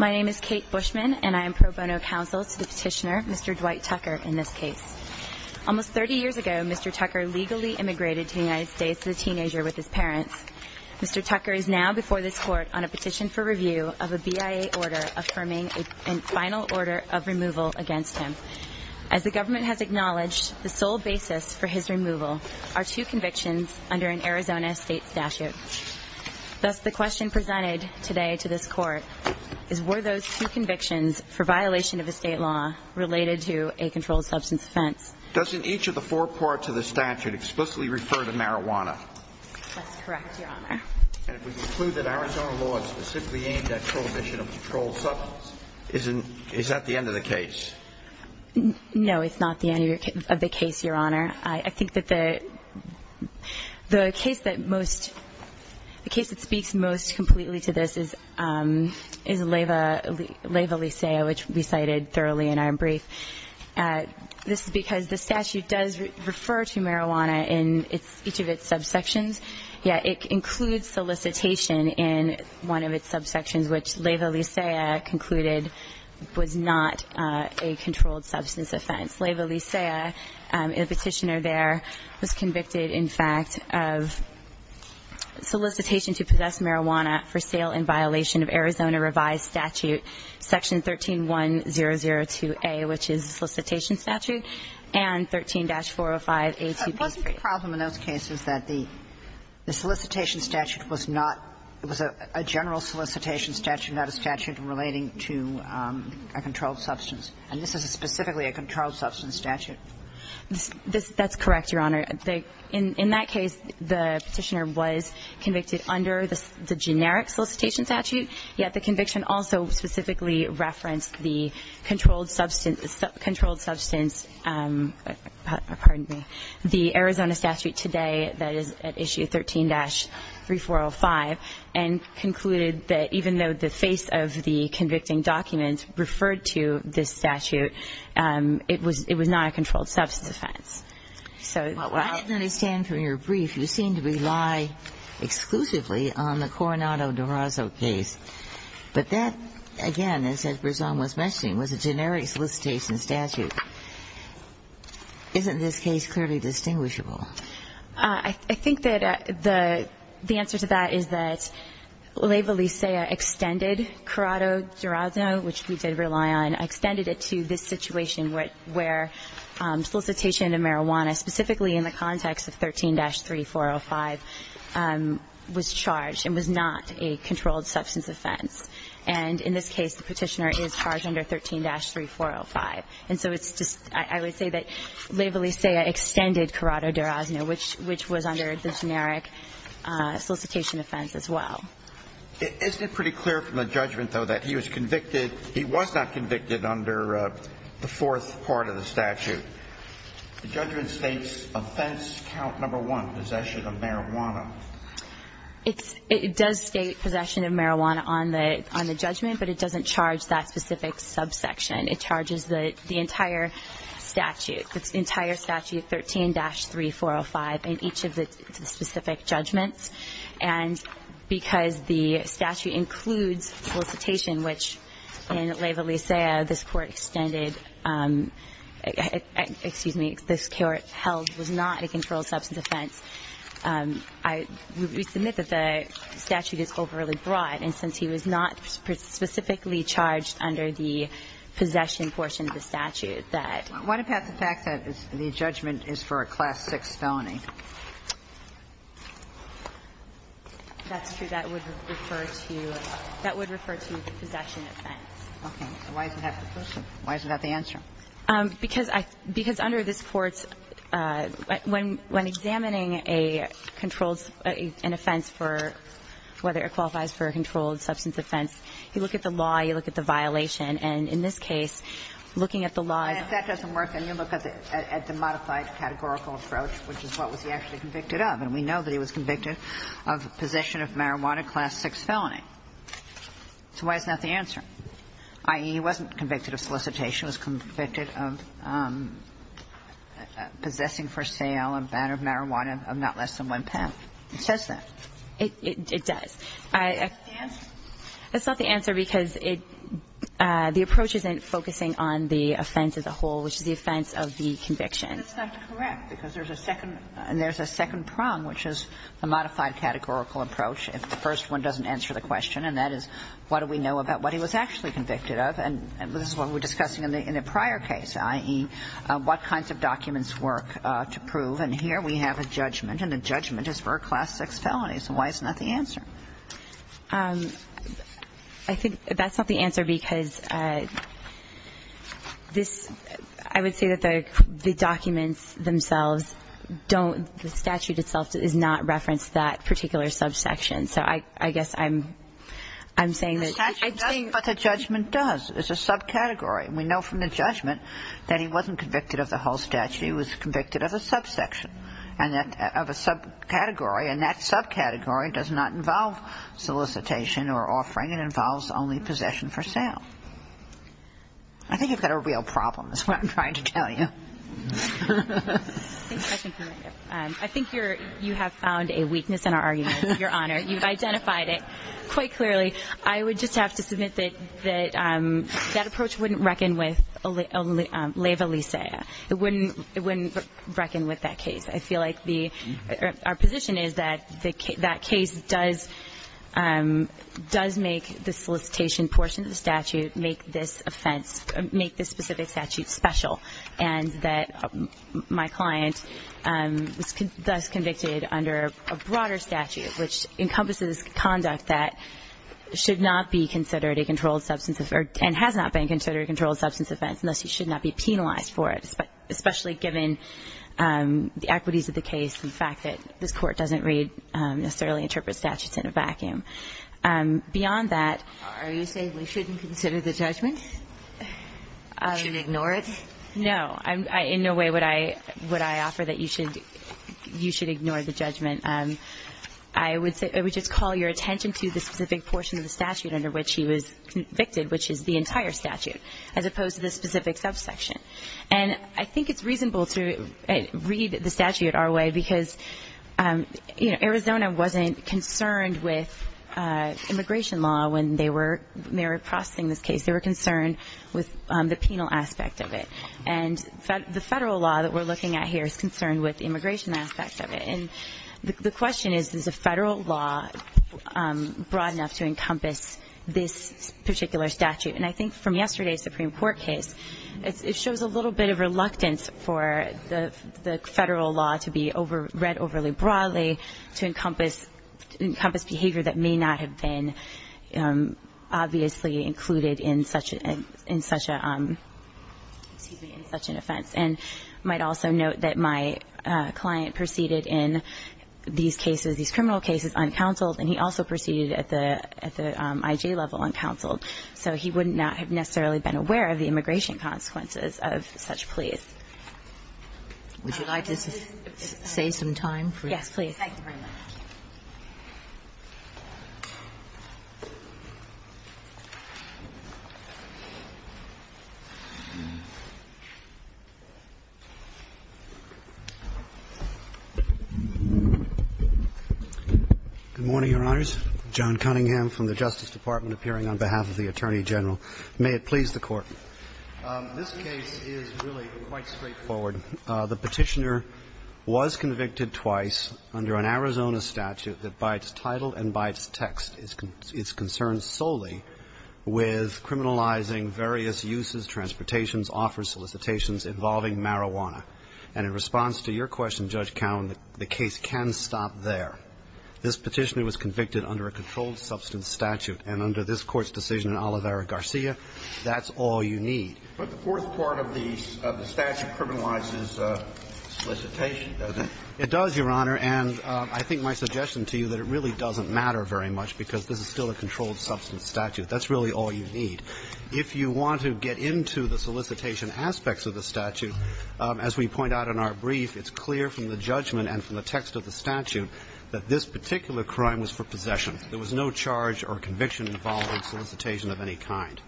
My name is Kate Bushman and I am pro bono counsel to the petitioner, Mr. Dwight Tucker, in this case. Almost 30 years ago, Mr. Tucker legally immigrated to the United States as a teenager with his parents. Mr. Tucker is now before this court on a petition for review of a BIA order affirming a final order of removal against him. As the government has acknowledged, the sole basis for his removal are two convictions under an Arizona state statute. Thus, the question presented today to this court is, were those two convictions for violation of a state law related to a controlled substance offense? Justice Alito Doesn't each of the four parts of the statute explicitly refer to marijuana? Ms. Bushman That's correct, Your Honor. Justice Alito And if we conclude that Arizona law is specifically aimed at prohibition of controlled substance, is that the end of the case? Ms. Bushman No, it's not the end of the case, Your Honor. I think that the case that most, the case that speaks most completely to this is Leyva Licea, which we cited thoroughly in our brief. This is because the statute does refer to marijuana in each of its subsections, yet it includes solicitation in one of its subsections, which Leyva Licea concluded was not a controlled substance offense. Leyva Licea, the Petitioner there, was convicted, in fact, of solicitation to possess marijuana for sale in violation of Arizona revised statute section 13-1002A, which is the solicitation statute, and 13-405A2B3. Sotomayor It wasn't a problem in those cases that the general solicitation statute is not a statute relating to a controlled substance, and this is specifically a controlled substance statute. Ms. Bushman That's correct, Your Honor. In that case, the Petitioner was convicted under the generic solicitation statute, yet the conviction also specifically referenced the controlled substance, pardon me, the Arizona statute today that is at issue 13-3405, and concluded that even though the face of the convicting document referred to this statute, it was not a controlled substance offense. So while the Petitioner was convicted under the generic solicitation statute, yet the general solicitation statute was not a controlled substance offense, the Petitioner Ms. Bushman I think that the answer to that is that Leyva Licea extended Corrado-Durazno, which we did rely on, extended it to this situation where solicitation of marijuana, specifically in the context of 13-3405, was charged and was not a controlled substance offense. And in this case, the Petitioner is charged under 13-3405. And so it's just – I would say that Leyva Licea extended Corrado-Durazno, which was under the generic solicitation offense as well. Alito Isn't it pretty clear from the judgment, though, that he was convicted – he was not convicted under the fourth part of the statute? The judgment states offense count number one, possession of marijuana. It's – it does state possession of marijuana on the judgment, but it doesn't charge that specific subsection. It charges the entire statute, the entire statute, 13-3405, in each of the specific judgments. And because the statute includes solicitation, which in Leyva Licea this Court extended – excuse me, this Court held was not a controlled substance offense, I would submit that the statute is overly broad. And since he was not specifically charged under the possession portion of the statute, that – Why not pass the fact that the judgment is for a Class VI felony? That's true. That would refer to – that would refer to the possession offense. Okay. So why isn't that the question? Why isn't that the answer? Because I – because under this Court's – when examining a controlled – an offense for – whether it qualifies for a controlled substance offense, you look at the law, you look at the violation. And in this case, looking at the law is a – And if that doesn't work, then you look at the modified categorical approach, which is what was he actually convicted of. And we know that he was convicted of possession of marijuana, Class VI felony. So why isn't that the answer? I.e., he wasn't convicted of solicitation. He was convicted of possessing for sale and banner of marijuana of not less than one pen. It says that. It does. That's not the answer? That's not the answer because it – the approach isn't focusing on the offense as a whole, which is the offense of the conviction. That's not correct, because there's a second – there's a second prong, which is the modified categorical approach. If the first one doesn't answer the question, and that is, what do we know about what he was actually convicted of? And this is what we were discussing in the prior case, i.e., what kinds of documents work to prove. And here we have a judgment, and the judgment is for a Class VI felony. So why isn't that the answer? I think that's not the answer because this – I would say that the documents themselves don't – the statute itself does not reference that particular subsection. So I guess I'm – I'm saying that – The statute does what the judgment does. It's a subcategory. And we know from the judgment that he wasn't convicted of the whole statute. He was convicted of a subsection and that – of a subcategory. And that subcategory does not involve solicitation or offering. It involves only possession for sale. I think you've got a real problem is what I'm trying to tell you. I think you're – you have found a weakness in our argument, Your Honor. You've identified it quite clearly. I would just have to submit that that approach wouldn't reckon with laeva licea. It wouldn't reckon with that case. I feel like the – our position is that that case does make the solicitation portion of the statute make this offense – make this specific statute special and that my client was thus convicted under a broader statute, which encompasses conduct that should not be considered a controlled substance of – and has not been considered a controlled substance offense, and thus he should not be penalized for it, especially given the equities of the case and the fact that this Court doesn't read – necessarily interpret statutes in a vacuum. Beyond that – Are you saying we shouldn't consider the judgment? We shouldn't ignore it? No. In no way would I offer that you should ignore the judgment. I would say – I would just call your attention to the specific portion of the statute under which he was convicted, which is the entire statute, as opposed to the specific subsection. And I think it's reasonable to read the statute our way because, you know, Arizona wasn't concerned with immigration law when they were processing this case. They were concerned with the penal aspect of it. And the Federal law that we're looking at here is concerned with immigration aspects of it. And the question is, is the Federal law broad enough to encompass this particular statute? And I think from yesterday's Supreme Court case, it shows a little bit of reluctance for the Federal law to be read overly broadly to encompass behavior that may not have been obviously included in such a – in such an offense. And I might also note that my client proceeded in these cases, these criminal cases, uncounseled. And he also proceeded at the IG level uncounseled. So he would not have necessarily been aware of the immigration consequences of such pleas. Would you like to say some time? Yes, please. Thank you very much. Good morning, Your Honors. John Cunningham from the Justice Department appearing on behalf of the Attorney General. May it please the Court. This case is really quite straightforward. The Petitioner was convicted twice under an Arizona statute that by its title and by its text is concerned solely with criminalizing various uses, transportations, offers, solicitations involving marijuana. And in response to your question, Judge Cowen, the case can stop there. This Petitioner was convicted under a controlled substance statute. And under this Court's decision in Oliveira Garcia, that's all you need. But the fourth part of the statute criminalizes solicitation, doesn't it? It does, Your Honor. And I think my suggestion to you that it really doesn't matter very much because this is still a controlled substance statute. That's really all you need. If you want to get into the solicitation aspects of the statute, as we point out in our brief, it's clear from the judgment and from the text of the statute that this particular crime was for possession. There was no charge or conviction involving solicitation of any kind.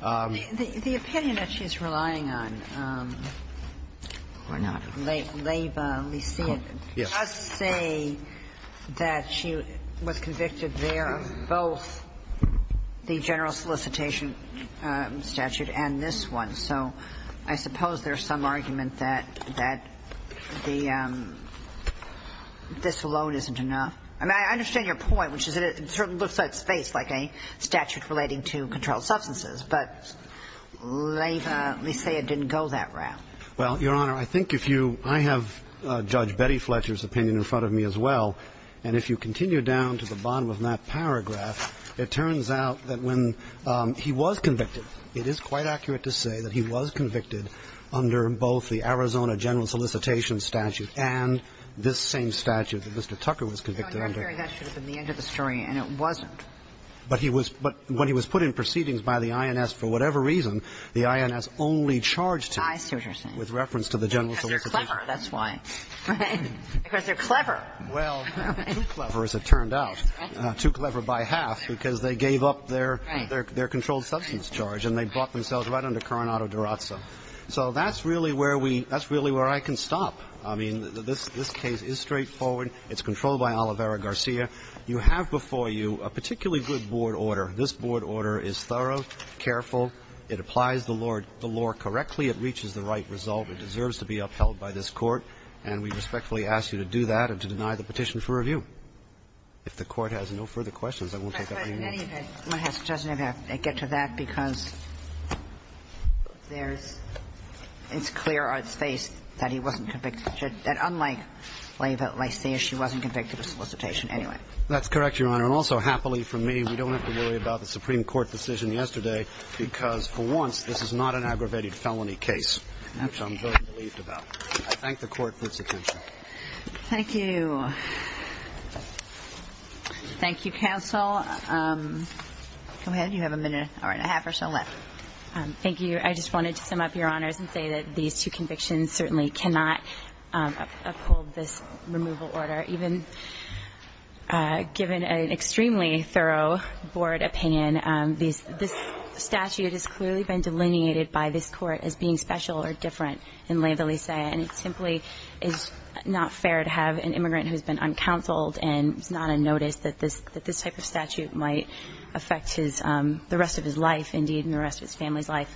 The opinion that she's relying on, or not, Leyva Lysyat, does say that she was convicted there of both the general solicitation statute and this one. So I suppose there's some argument that the this alone isn't enough. I mean, I understand your point, which is it certainly looks like space, like a statute relating to controlled substances, but Leyva Lysyat didn't go that route. Well, Your Honor, I think if you ‑‑ I have Judge Betty Fletcher's opinion in front of me as well, and if you continue down to the bottom of that paragraph, it turns out that when he was convicted, it is quite accurate to say that he was convicted under both the Arizona general solicitation statute and this same statute that Mr. Tucker was convicted under. No, Your Honor, that should have been the end of the story, and it wasn't. But he was ‑‑ but when he was put in proceedings by the INS for whatever reason, the INS only charged him with reference to the general solicitation. Because they're clever, that's why. Right. Because they're clever. Well, too clever, as it turned out. Right. Too clever by half, because they gave up their controlled substance charge and they brought themselves right under Coronado-Durazzo. So that's really where we ‑‑ that's really where I can stop. I mean, this case is straightforward. It's controlled by Oliveira Garcia. You have before you a particularly good board order. This board order is thorough, careful. It applies the law correctly. It reaches the right result. It deserves to be upheld by this Court. And we respectfully ask you to do that and to deny the petition for review. If the Court has no further questions, I won't take up any more. My question doesn't have to get to that because there's ‑‑ it's clear on its face that he wasn't convicted. That unlike Lysia, she wasn't convicted of solicitation. Anyway. That's correct, Your Honor. And also, happily for me, we don't have to worry about the Supreme Court decision yesterday because, for once, this is not an aggravated felony case, which I'm very relieved about. I thank the Court for its attention. Thank you. Thank you, counsel. Go ahead. You have a minute and a half or so left. Thank you. I just wanted to sum up, Your Honors, and say that these two convictions certainly cannot uphold this removal order. Even given an extremely thorough board opinion, this statute has clearly been delineated by this Court as being special or different in Leyva Lysia, and it simply is not fair to have an immigrant who has been uncounseled and it's not a notice that this type of statute might affect the rest of his life, indeed, and the rest of his family's life,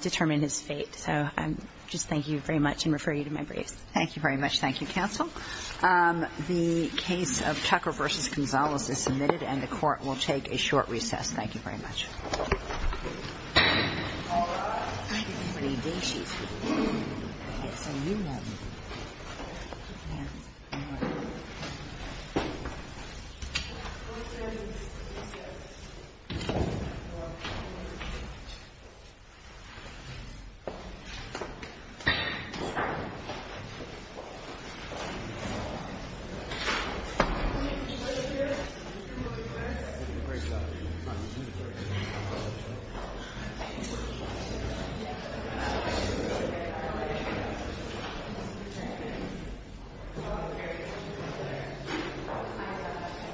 determine his fate. So I just thank you very much and refer you to my briefs. Thank you very much. Thank you, counsel. The case of Tucker v. Gonzalez is submitted, and the Court will take a short recess. Thank you very much. All rise. Thank you. Thank you.